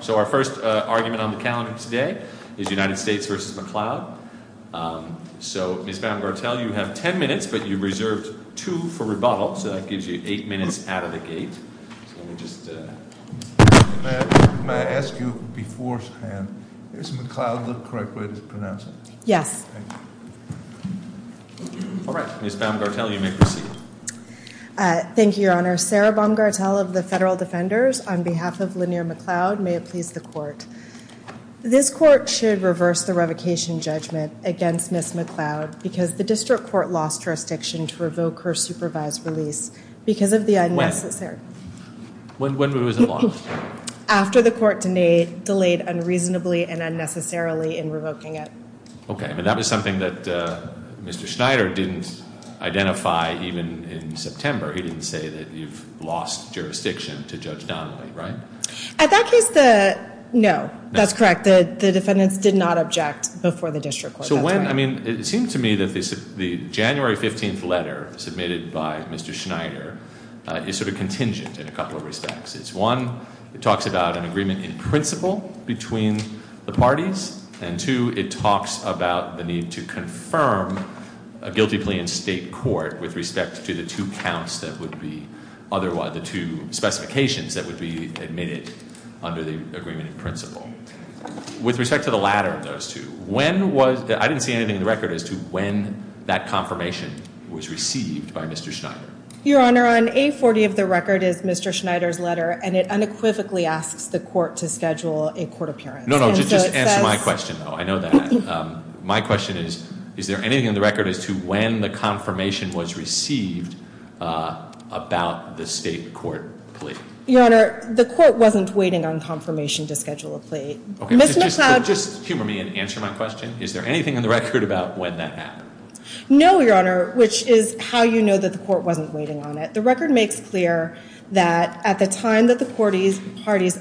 So our first argument on the calendar today is United States v. McLeod. So, Ms. Baumgartel, you have ten minutes, but you reserved two for rebuttal, so that gives you eight minutes out of the gate. Let me just... May I ask you beforehand, is McLeod the correct way to pronounce it? Yes. All right. Ms. Baumgartel, you may proceed. Thank you, Your Honor. Sarah Baumgartel of the Federal Defenders, on behalf of Lanier McLeod, may it please the Court. This Court should reverse the revocation judgment against Ms. McLeod because the District Court lost jurisdiction to revoke her supervised release because of the unnecessary... When? When was it lost? After the Court delayed unreasonably and unnecessarily in revoking it. Okay, but that was something that Mr. Schneider didn't identify even in September. He didn't say that you've lost jurisdiction to Judge Donnelly, right? At that case, the... No, that's correct. The defendants did not object before the District Court. So when... I mean, it seems to me that the January 15th letter submitted by Mr. Schneider is sort of contingent in a couple of respects. It's one, it talks about an agreement in principle between the parties. And two, it talks about the need to confirm a guilty plea in state court with respect to the two counts that would be... Otherwise, the two specifications that would be admitted under the agreement in principle. With respect to the latter of those two, when was... I didn't see anything in the record as to when that confirmation was received by Mr. Schneider. Your Honor, on A40 of the record is Mr. Schneider's letter, and it unequivocally asks the Court to schedule a court appearance. No, no, just answer my question, though. I know that. My question is, is there anything in the record as to when the confirmation was received about the state court plea? Your Honor, the Court wasn't waiting on confirmation to schedule a plea. Okay, but just humor me and answer my question. Is there anything in the record about when that happened? No, Your Honor, which is how you know that the Court wasn't waiting on it. The record makes clear that at the time that the parties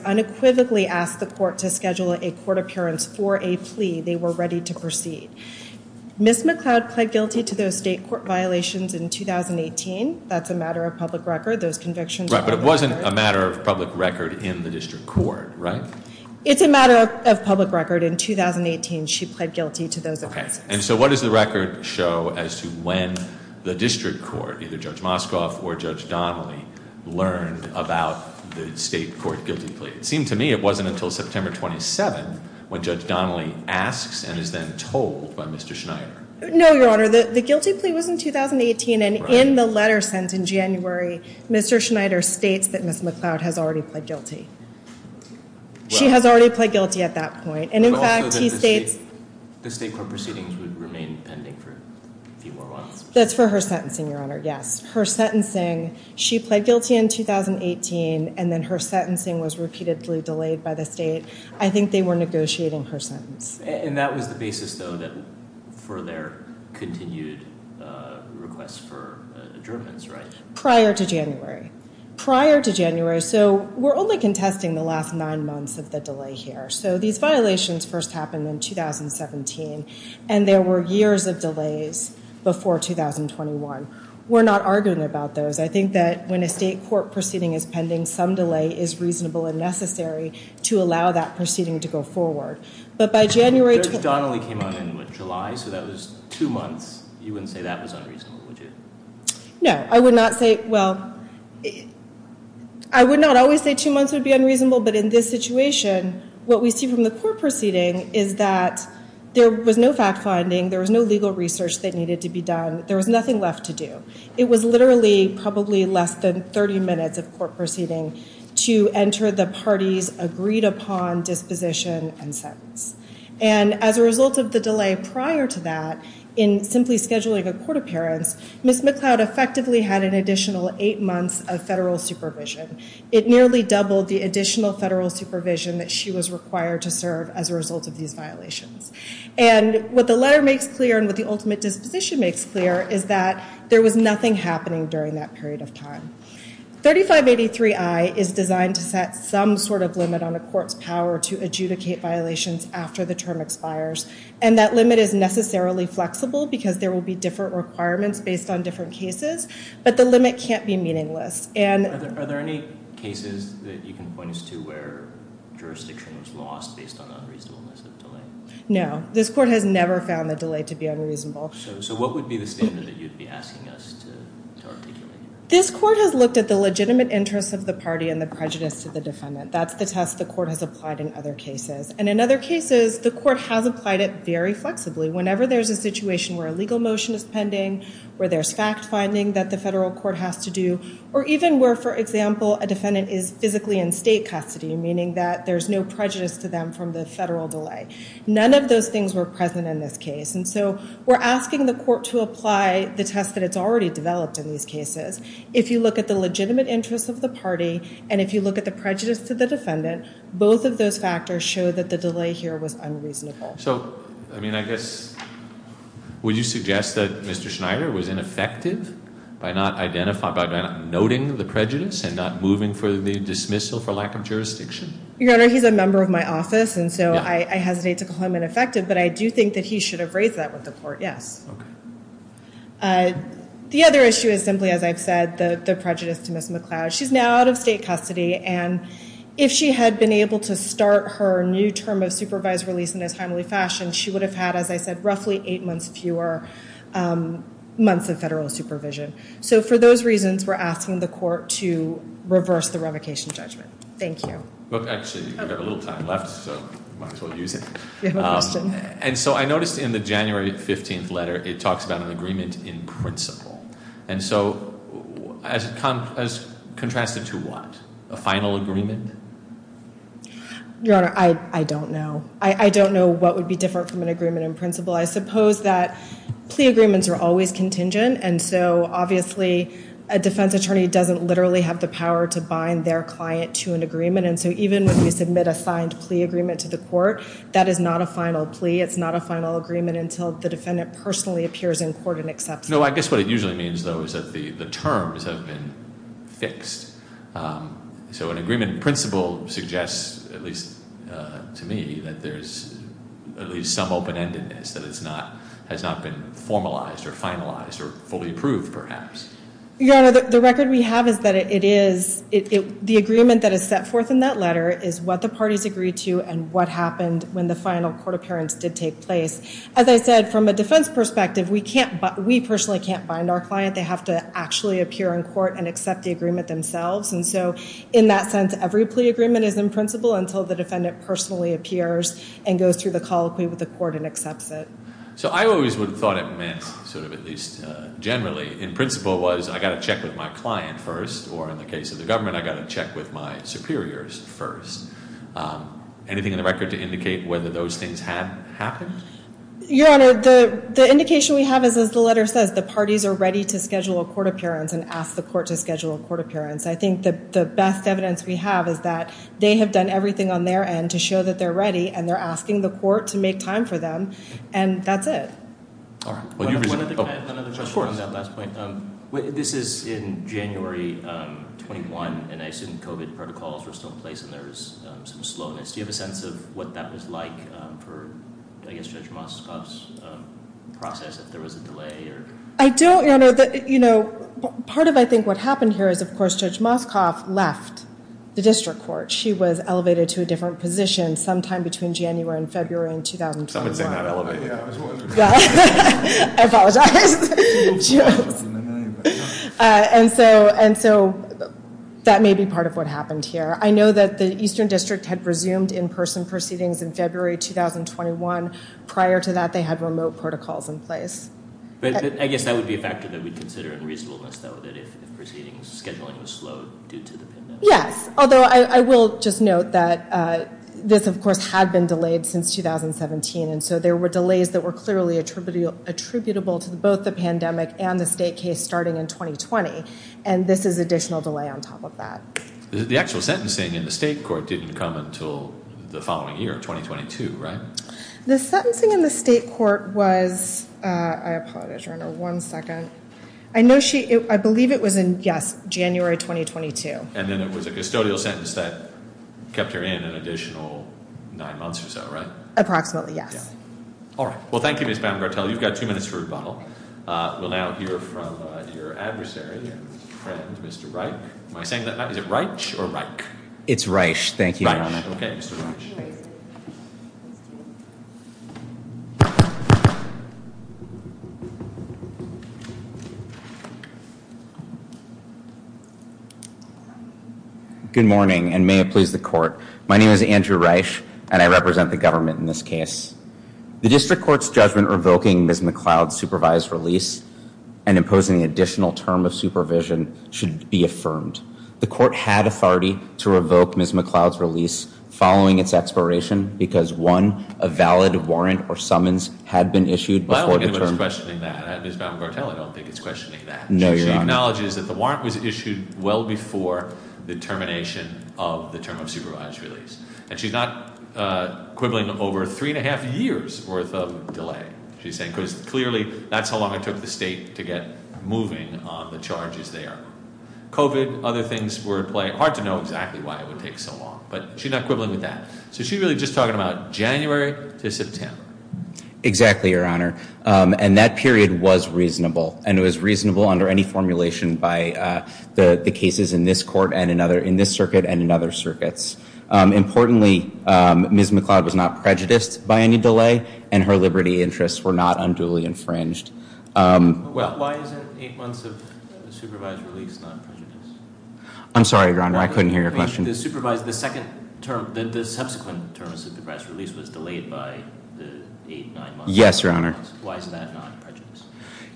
unequivocally asked the Court to schedule a court appearance for a plea, they were ready to proceed. Ms. McLeod pled guilty to those state court violations in 2018. That's a matter of public record, those convictions... Right, but it wasn't a matter of public record in the district court, right? It's a matter of public record. In 2018, she pled guilty to those offenses. Okay, and so what does the record show as to when the district court, either Judge Moskov or Judge Donnelly, learned about the state court guilty plea? It seemed to me it wasn't until September 27th when Judge Donnelly asks and is then told by Mr. Schneider. No, Your Honor, the guilty plea was in 2018, and in the letter sent in January, Mr. Schneider states that Ms. McLeod has already pled guilty. She has already pled guilty at that point, and in fact, he states... The state court proceedings would remain pending for a few more months. That's for her sentencing, Your Honor, yes. Her sentencing, she pled guilty in 2018, and then her sentencing was repeatedly delayed by the state. I think they were negotiating her sentence. And that was the basis, though, for their continued request for adjournments, right? Prior to January. Prior to January, so we're only contesting the last nine months of the delay here. So these violations first happened in 2017, and there were years of delays before 2021. We're not arguing about those. I think that when a state court proceeding is pending, some delay is reasonable and necessary to allow that proceeding to go forward. But by January... Judge Donnelly came on in, what, July? So that was two months. You wouldn't say that was unreasonable, would you? No, I would not say... Well, I would not always say two months would be unreasonable, but in this situation, what we see from the court proceeding is that there was no fact-finding, there was no legal research that needed to be done, there was nothing left to do. It was literally probably less than 30 minutes of court proceeding to enter the parties' agreed-upon disposition and sentence. And as a result of the delay prior to that, in simply scheduling a court appearance, Ms. McLeod effectively had an additional eight months of federal supervision. It nearly doubled the additional federal supervision that she was required to serve as a result of these violations. And what the letter makes clear and what the ultimate disposition makes clear is that there was nothing happening during that period of time. 3583I is designed to set some sort of limit on a court's power to adjudicate violations after the term expires. And that limit is necessarily flexible because there will be different requirements based on different cases, but the limit can't be meaningless. Are there any cases that you can point us to where jurisdiction was lost based on unreasonableness of delay? No. This court has never found the delay to be unreasonable. So what would be the standard that you'd be asking us to articulate? This court has looked at the legitimate interests of the party and the prejudice to the defendant. That's the test the court has applied in other cases. And in other cases, the court has applied it very flexibly. Whenever there's a situation where a legal motion is pending, where there's fact-finding that the federal court has to do, or even where, for example, a defendant is physically in state custody, meaning that there's no prejudice to them from the federal delay. None of those things were present in this case. And so we're asking the court to apply the test that it's already developed in these cases. If you look at the legitimate interests of the party and if you look at the prejudice to the defendant, both of those factors show that the delay here was unreasonable. So, I mean, I guess, would you suggest that Mr. Schneider was ineffective by not identifying, by not noting the prejudice and not moving for the dismissal for lack of jurisdiction? Your Honor, he's a member of my office, and so I hesitate to call him ineffective. But I do think that he should have raised that with the court, yes. The other issue is simply, as I've said, the prejudice to Ms. McCloud. She's now out of state custody, and if she had been able to start her new term of supervised release in this timely fashion, she would have had, as I said, roughly eight months fewer months of federal supervision. So for those reasons, we're asking the court to reverse the revocation judgment. Thank you. Actually, we've got a little time left, so might as well use it. You have a question? And so I noticed in the January 15th letter it talks about an agreement in principle. And so as contrasted to what? A final agreement? Your Honor, I don't know. I don't know what would be different from an agreement in principle. I suppose that plea agreements are always contingent, and so obviously a defense attorney doesn't literally have the power to bind their client to an agreement, and so even when we submit a signed plea agreement to the court, that is not a final plea. It's not a final agreement until the defendant personally appears in court and accepts it. No, I guess what it usually means, though, is that the terms have been fixed. So an agreement in principle suggests, at least to me, that there's at least some open-endedness, that it has not been formalized or finalized or fully approved, perhaps. Your Honor, the record we have is that the agreement that is set forth in that letter is what the parties agreed to and what happened when the final court appearance did take place. As I said, from a defense perspective, we personally can't bind our client. They have to actually appear in court and accept the agreement themselves. And so in that sense, every plea agreement is in principle until the defendant personally appears and goes through the colloquy with the court and accepts it. So I always would have thought it meant, sort of at least generally, in principle, was I've got to check with my client first, or in the case of the government, I've got to check with my superiors first. Anything in the record to indicate whether those things had happened? Your Honor, the indication we have is, as the letter says, the parties are ready to schedule a court appearance and ask the court to schedule a court appearance. I think the best evidence we have is that they have done everything on their end to show that they're ready, and they're asking the court to make time for them, and that's it. All right. One other question on that last point. This is in January 21, and I assume COVID protocols are still in place and there is some slowness. Do you have a sense of what that was like for, I guess, Judge Moscoff's process, if there was a delay? I don't, Your Honor. You know, part of, I think, what happened here is, of course, Judge Moscoff left the district court. She was elevated to a different position sometime between January and February in 2021. Somebody said not elevated. I apologize. And so that may be part of what happened here. I know that the Eastern District had resumed in-person proceedings in February 2021. Prior to that, they had remote protocols in place. I guess that would be a factor that we'd consider in reasonableness, though, that if proceedings scheduling was slowed due to the pandemic. Yes, although I will just note that this, of course, had been delayed since 2017. And so there were delays that were clearly attributable to both the pandemic and the state case starting in 2020. And this is additional delay on top of that. The actual sentencing in the state court didn't come until the following year, 2022, right? The sentencing in the state court was, I apologize, Your Honor, one second. I know she, I believe it was in, yes, January 2022. And then it was a custodial sentence that kept her in an additional nine months or so, right? Approximately, yes. All right. Well, thank you, Ms. Baumgartel. You've got two minutes for rebuttal. We'll now hear from your adversary, your friend, Mr. Reich. Am I saying that right? It's Reich. Thank you, Your Honor. Okay, Mr. Reich. Good morning, and may it please the court. My name is Andrew Reich, and I represent the government in this case. The district court's judgment revoking Ms. McLeod's supervised release and imposing the additional term of supervision should be affirmed. The court had authority to revoke Ms. McLeod's release following its expiration because, one, a valid warrant or summons had been issued before the term. I don't think anyone's questioning that. Ms. Baumgartel, I don't think is questioning that. No, Your Honor. She acknowledges that the warrant was issued well before the termination of the term of supervised release. And she's not quibbling over three and a half years' worth of delay, she's saying, because clearly that's how long it took the state to get moving on the charges there. COVID, other things were at play. Hard to know exactly why it would take so long, but she's not quibbling with that. So she's really just talking about January to September. Exactly, Your Honor. And that period was reasonable, and it was reasonable under any formulation by the cases in this court and in this circuit and in other circuits. Importantly, Ms. McLeod was not prejudiced by any delay, and her liberty interests were not unduly infringed. Why is it eight months of supervised release not prejudice? I'm sorry, Your Honor, I couldn't hear your question. The subsequent term of supervised release was delayed by the eight, nine months. Yes, Your Honor. Why is that not prejudice?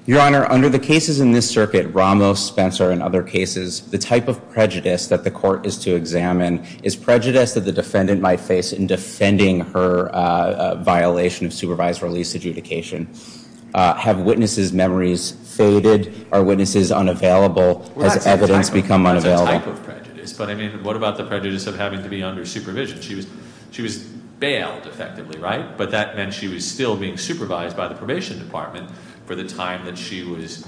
Your Honor, under the cases in this circuit, Ramos, Spencer, and other cases, the type of prejudice that the court is to examine is prejudice that the defendant might face in defending her violation of supervised release adjudication. Have witnesses' memories faded? Are witnesses unavailable? Has evidence become unavailable? Well, that's a type of prejudice. But, I mean, what about the prejudice of having to be under supervision? She was bailed, effectively, right? But that meant she was still being supervised by the probation department for the time that she was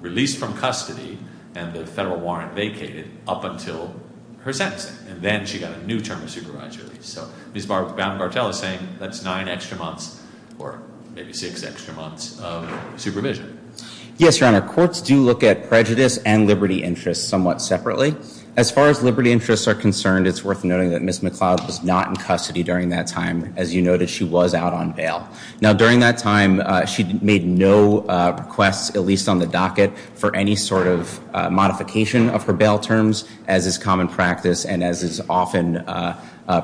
released from custody and the federal warrant vacated up until her sentencing. And then she got a new term of supervised release. So Ms. Baumgartel is saying that's nine extra months or maybe six extra months of supervision. Yes, Your Honor. Courts do look at prejudice and liberty interests somewhat separately. As far as liberty interests are concerned, it's worth noting that Ms. McCloud was not in custody during that time. Now, during that time, she made no requests, at least on the docket, for any sort of modification of her bail terms, as is common practice and as is often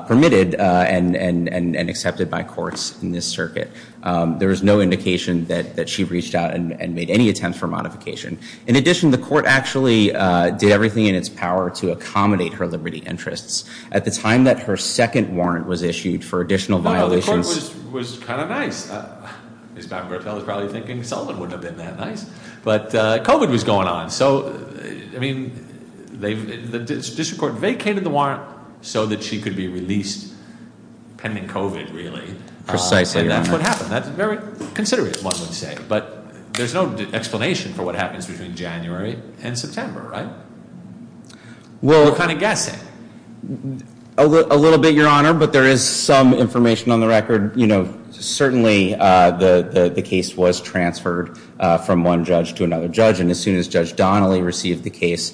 permitted and accepted by courts in this circuit. There was no indication that she reached out and made any attempt for modification. In addition, the court actually did everything in its power to accommodate her liberty interests. At the time that her second warrant was issued for additional violations— Ms. Baumgartel is probably thinking, Sullivan wouldn't have been that nice. But COVID was going on. So, I mean, the district court vacated the warrant so that she could be released pending COVID, really. Precisely, Your Honor. And that's what happened. That's very considerate, one would say. But there's no explanation for what happens between January and September, right? We're kind of guessing. A little bit, Your Honor. But there is some information on the record. You know, certainly the case was transferred from one judge to another judge. And as soon as Judge Donnelly received the case,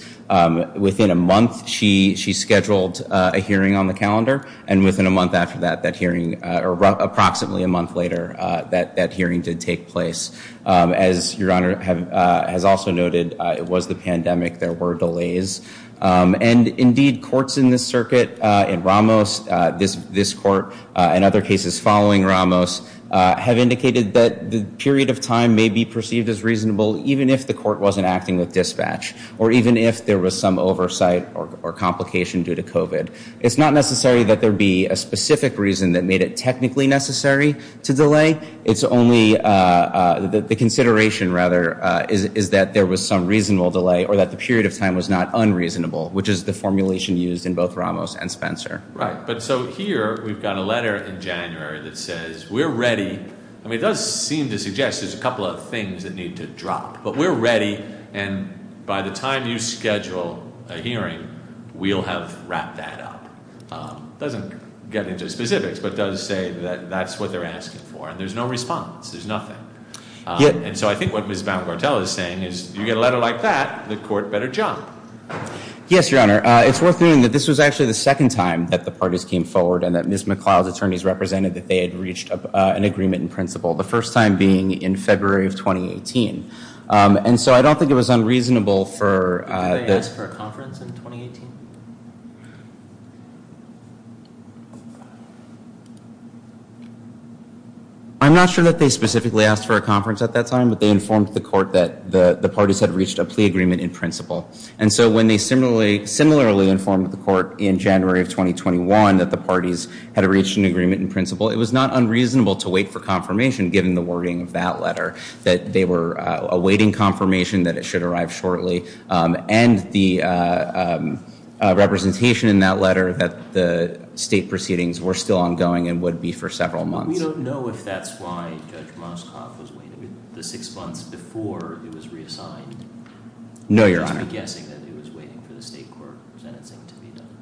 within a month, she scheduled a hearing on the calendar. And within a month after that, that hearing—or approximately a month later, that hearing did take place. As Your Honor has also noted, it was the pandemic. There were delays. And, indeed, courts in this circuit, in Ramos, this court, and other cases following Ramos, have indicated that the period of time may be perceived as reasonable, even if the court wasn't acting with dispatch. Or even if there was some oversight or complication due to COVID. It's not necessary that there be a specific reason that made it technically necessary to delay. It's only—the consideration, rather, is that there was some reasonable delay or that the period of time was not unreasonable, which is the formulation used in both Ramos and Spencer. Right. But so here, we've got a letter in January that says, we're ready. I mean, it does seem to suggest there's a couple of things that need to drop. But we're ready. And by the time you schedule a hearing, we'll have wrapped that up. It doesn't get into specifics, but does say that that's what they're asking for. And there's no response. There's nothing. And so I think what Ms. Baumgartel is saying is, you get a letter like that, the court better jump. Yes, Your Honor. It's worth noting that this was actually the second time that the parties came forward and that Ms. McLeod's attorneys represented that they had reached an agreement in principle, the first time being in February of 2018. And so I don't think it was unreasonable for— Did they ask for a conference in 2018? I'm not sure that they specifically asked for a conference at that time, but they informed the court that the parties had reached a plea agreement in principle. And so when they similarly informed the court in January of 2021 that the parties had reached an agreement in principle, it was not unreasonable to wait for confirmation given the wording of that letter, that they were awaiting confirmation that it should arrive shortly. And the representation in that letter that the state proceedings were still ongoing and would be for several months. We don't know if that's why Judge Moskoff was waiting the six months before it was reassigned. No, Your Honor. We're guessing that he was waiting for the state court sentencing to be done.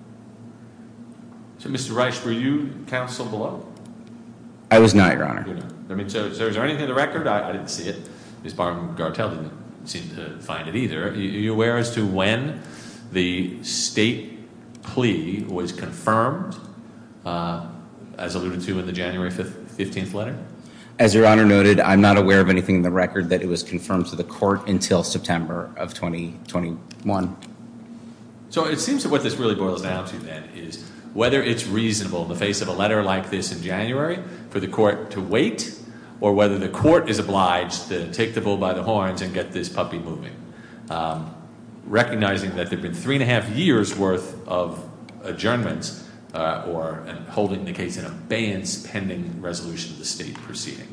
So, Mr. Reich, were you counsel below? I was not, Your Honor. So is there anything in the record? I didn't see it. Ms. Baumgartel didn't seem to find it either. Are you aware as to when the state plea was confirmed, as alluded to in the January 15th letter? As Your Honor noted, I'm not aware of anything in the record that it was confirmed to the court until September of 2021. So it seems that what this really boils down to then is whether it's reasonable in the face of a letter like this in January for the court to wait or whether the court is obliged to take the bull by the horns and get this puppy moving. Recognizing that there have been three and a half years worth of adjournments or holding the case in abeyance pending resolution of the state proceeding.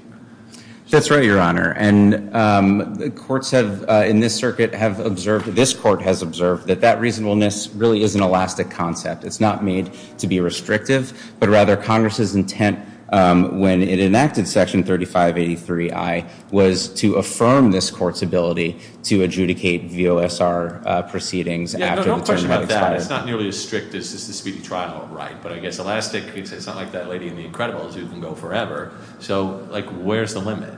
That's right, Your Honor. And the courts have in this circuit have observed, this court has observed, that that reasonableness really is an elastic concept. It's not made to be restrictive, but rather Congress's intent when it enacted Section 3583I was to affirm this court's ability to adjudicate VOSR proceedings after the term had expired. Yeah, no question about that. It's not nearly as strict as the speedy trial, right? But I guess elastic means it's not like that lady in The Incredibles who can go forever. So, like, where's the limit?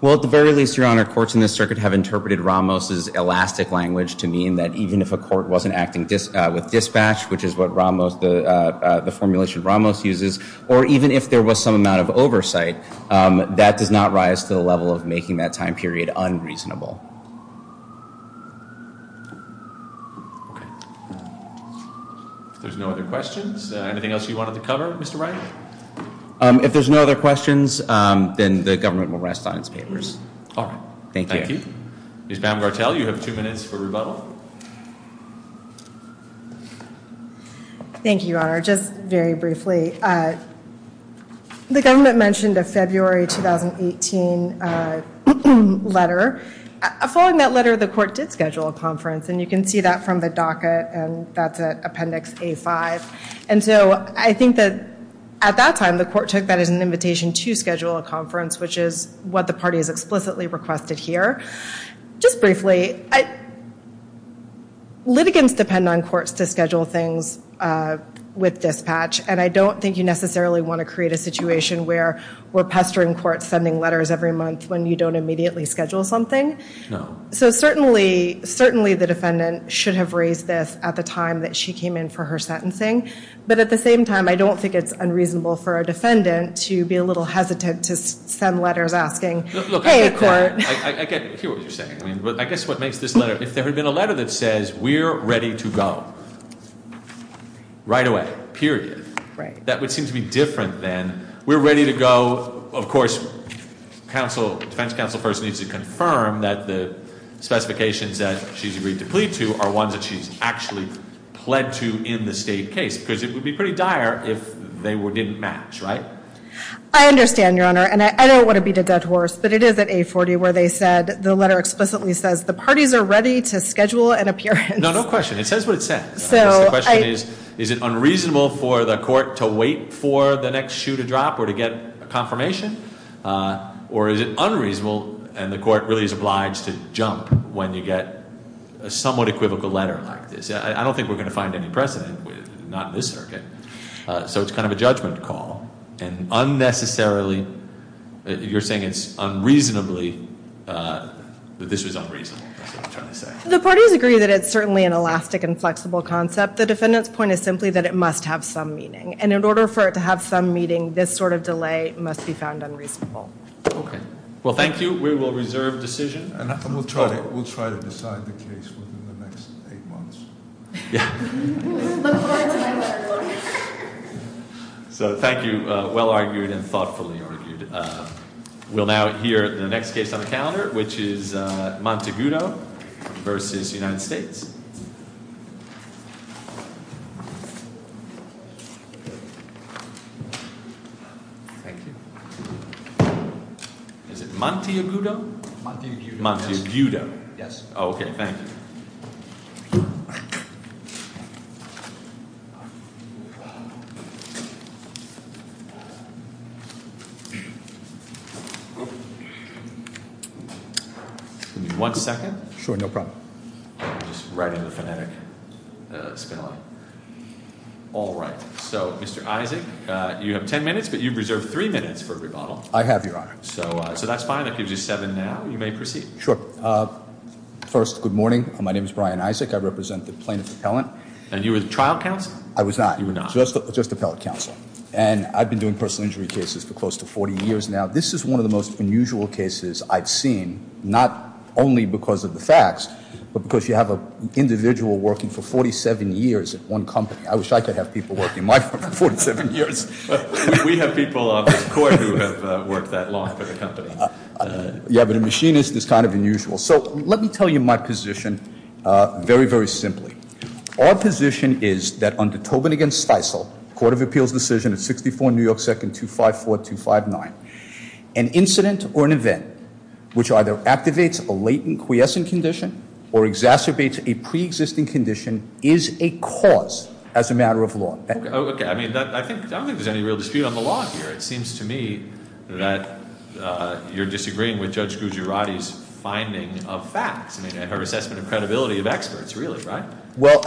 Well, at the very least, Your Honor, courts in this circuit have interpreted Ramos's elastic language to mean that even if a court wasn't acting with dispatch, which is what Ramos, the formulation Ramos uses, or even if there was some amount of oversight, that does not rise to the level of making that time period unreasonable. If there's no other questions, anything else you wanted to cover, Mr. Wright? If there's no other questions, then the government will rest on its papers. All right. Thank you. Ms. Baumgartel, you have two minutes for rebuttal. Thank you, Your Honor. Just very briefly, the government mentioned a February 2018 letter. Following that letter, the court did schedule a conference, and you can see that from the docket, and that's at Appendix A-5. And so I think that at that time the court took that as an invitation to schedule a conference, which is what the party has explicitly requested here. Just briefly, litigants depend on courts to schedule things with dispatch, and I don't think you necessarily want to create a situation where we're pestering courts sending letters every month when you don't immediately schedule something. No. So certainly the defendant should have raised this at the time that she came in for her sentencing. But at the same time, I don't think it's unreasonable for a defendant to be a little hesitant to send letters asking, Hey, court. Look, I get what you're saying. I guess what makes this letter, if there had been a letter that says we're ready to go right away, period, that would seem to be different than we're ready to go, of course, defense counsel first needs to confirm that the specifications that she's agreed to plead to are ones that she's actually pled to in the state case because it would be pretty dire if they didn't match, right? I understand, Your Honor, and I don't want to beat a dead horse, but it is at 840 where they said the letter explicitly says the parties are ready to schedule an appearance. No, no question. It says what it says. The question is, is it unreasonable for the court to wait for the next shoe to drop or to get a confirmation? Or is it unreasonable and the court really is obliged to jump when you get a somewhat equivocal letter like this? I don't think we're going to find any precedent, not in this circuit, so it's kind of a judgment call. And unnecessarily, you're saying it's unreasonably, but this was unreasonable, is what I'm trying to say. The parties agree that it's certainly an elastic and flexible concept. The defendant's point is simply that it must have some meaning. And in order for it to have some meaning, this sort of delay must be found unreasonable. Okay. Well, thank you. We will reserve decision. And we'll try to decide the case within the next eight months. So thank you. Well argued and thoughtfully argued. We'll now hear the next case on the calendar, which is Monteguto v. United States. Thank you. Is it Monteguto? Monteguto. Monteguto. Yes. Okay. Thank you. Give me one second. Sure. No problem. Just writing the phonetic. All right. So, Mr. Isaac, you have ten minutes, but you've reserved three minutes for a rebuttal. I have, Your Honor. So that's fine. That gives you seven now. You may proceed. Sure. First, good morning. My name is Brian Isaac. I represent the plaintiff appellant. And you were the trial counsel? I was not. You were not. Just appellate counsel. And I've been doing personal injury cases for close to 40 years now. This is one of the most unusual cases I've seen, not only because of the facts, but because you have an individual working for 47 years at one company. I wish I could have people working in my firm for 47 years. We have people on this court who have worked that long for the company. Yeah, but a machinist is kind of unusual. So, let me tell you my position very, very simply. Our position is that under Tobin v. Stiesel, Court of Appeals decision of 64 New York 2nd 254259, an incident or an event which either activates a latent quiescent condition or exacerbates a preexisting condition is a cause as a matter of law. Okay. I mean, I don't think there's any real dispute on the law here. It seems to me that you're disagreeing with Judge Gujarati's finding of facts, her assessment and credibility of experts, really, right? Well,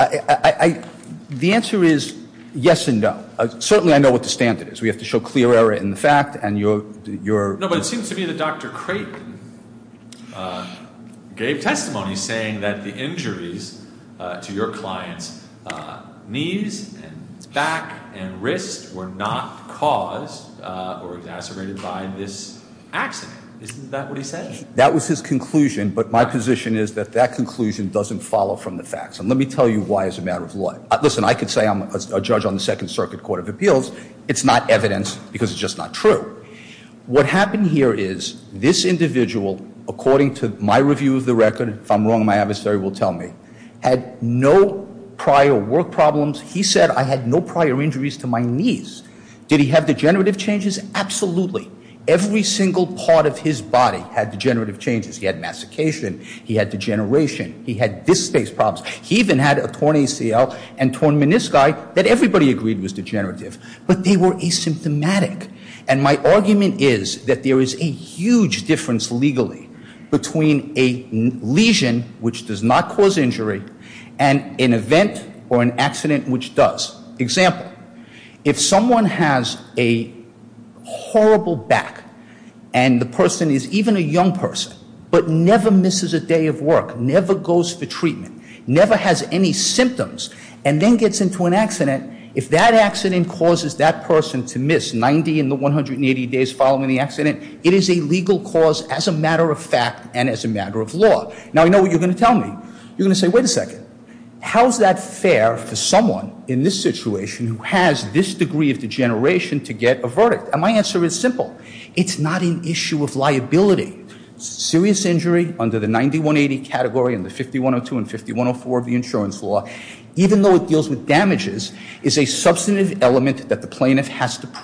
the answer is yes and no. Certainly, I know what the standard is. We have to show clear error in the fact. No, but it seems to me that Dr. Creighton gave testimony saying that the injuries to your client's knees and back and wrist were not caused or exacerbated by this accident. Isn't that what he said? That was his conclusion, but my position is that that conclusion doesn't follow from the facts. And let me tell you why as a matter of law. Listen, I could say I'm a judge on the Second Circuit Court of Appeals. It's not evidence because it's just not true. What happened here is this individual, according to my review of the record, if I'm wrong, my adversary will tell me, had no prior work problems. He said, I had no prior injuries to my knees. Did he have degenerative changes? Absolutely. Every single part of his body had degenerative changes. He had mastication. He had degeneration. He had disk space problems. He even had a torn ACL and torn menisci that everybody agreed was degenerative. But they were asymptomatic. And my argument is that there is a huge difference legally between a lesion, which does not cause injury, and an event or an accident which does. Example, if someone has a horrible back and the person is even a young person, but never misses a day of work, never goes for treatment, never has any symptoms, and then gets into an accident, if that accident causes that person to miss 90 in the 180 days following the accident, it is a legal cause as a matter of fact and as a matter of law. Now, I know what you're going to tell me. You're going to say, wait a second. How is that fair for someone in this situation who has this degree of degeneration to get a verdict? And my answer is simple. It's not an issue of liability. Serious injury under the 90-180 category and the 5102 and 5104 of the insurance law, even though it deals with damages, is a substantive element that the plaintiff has to prove.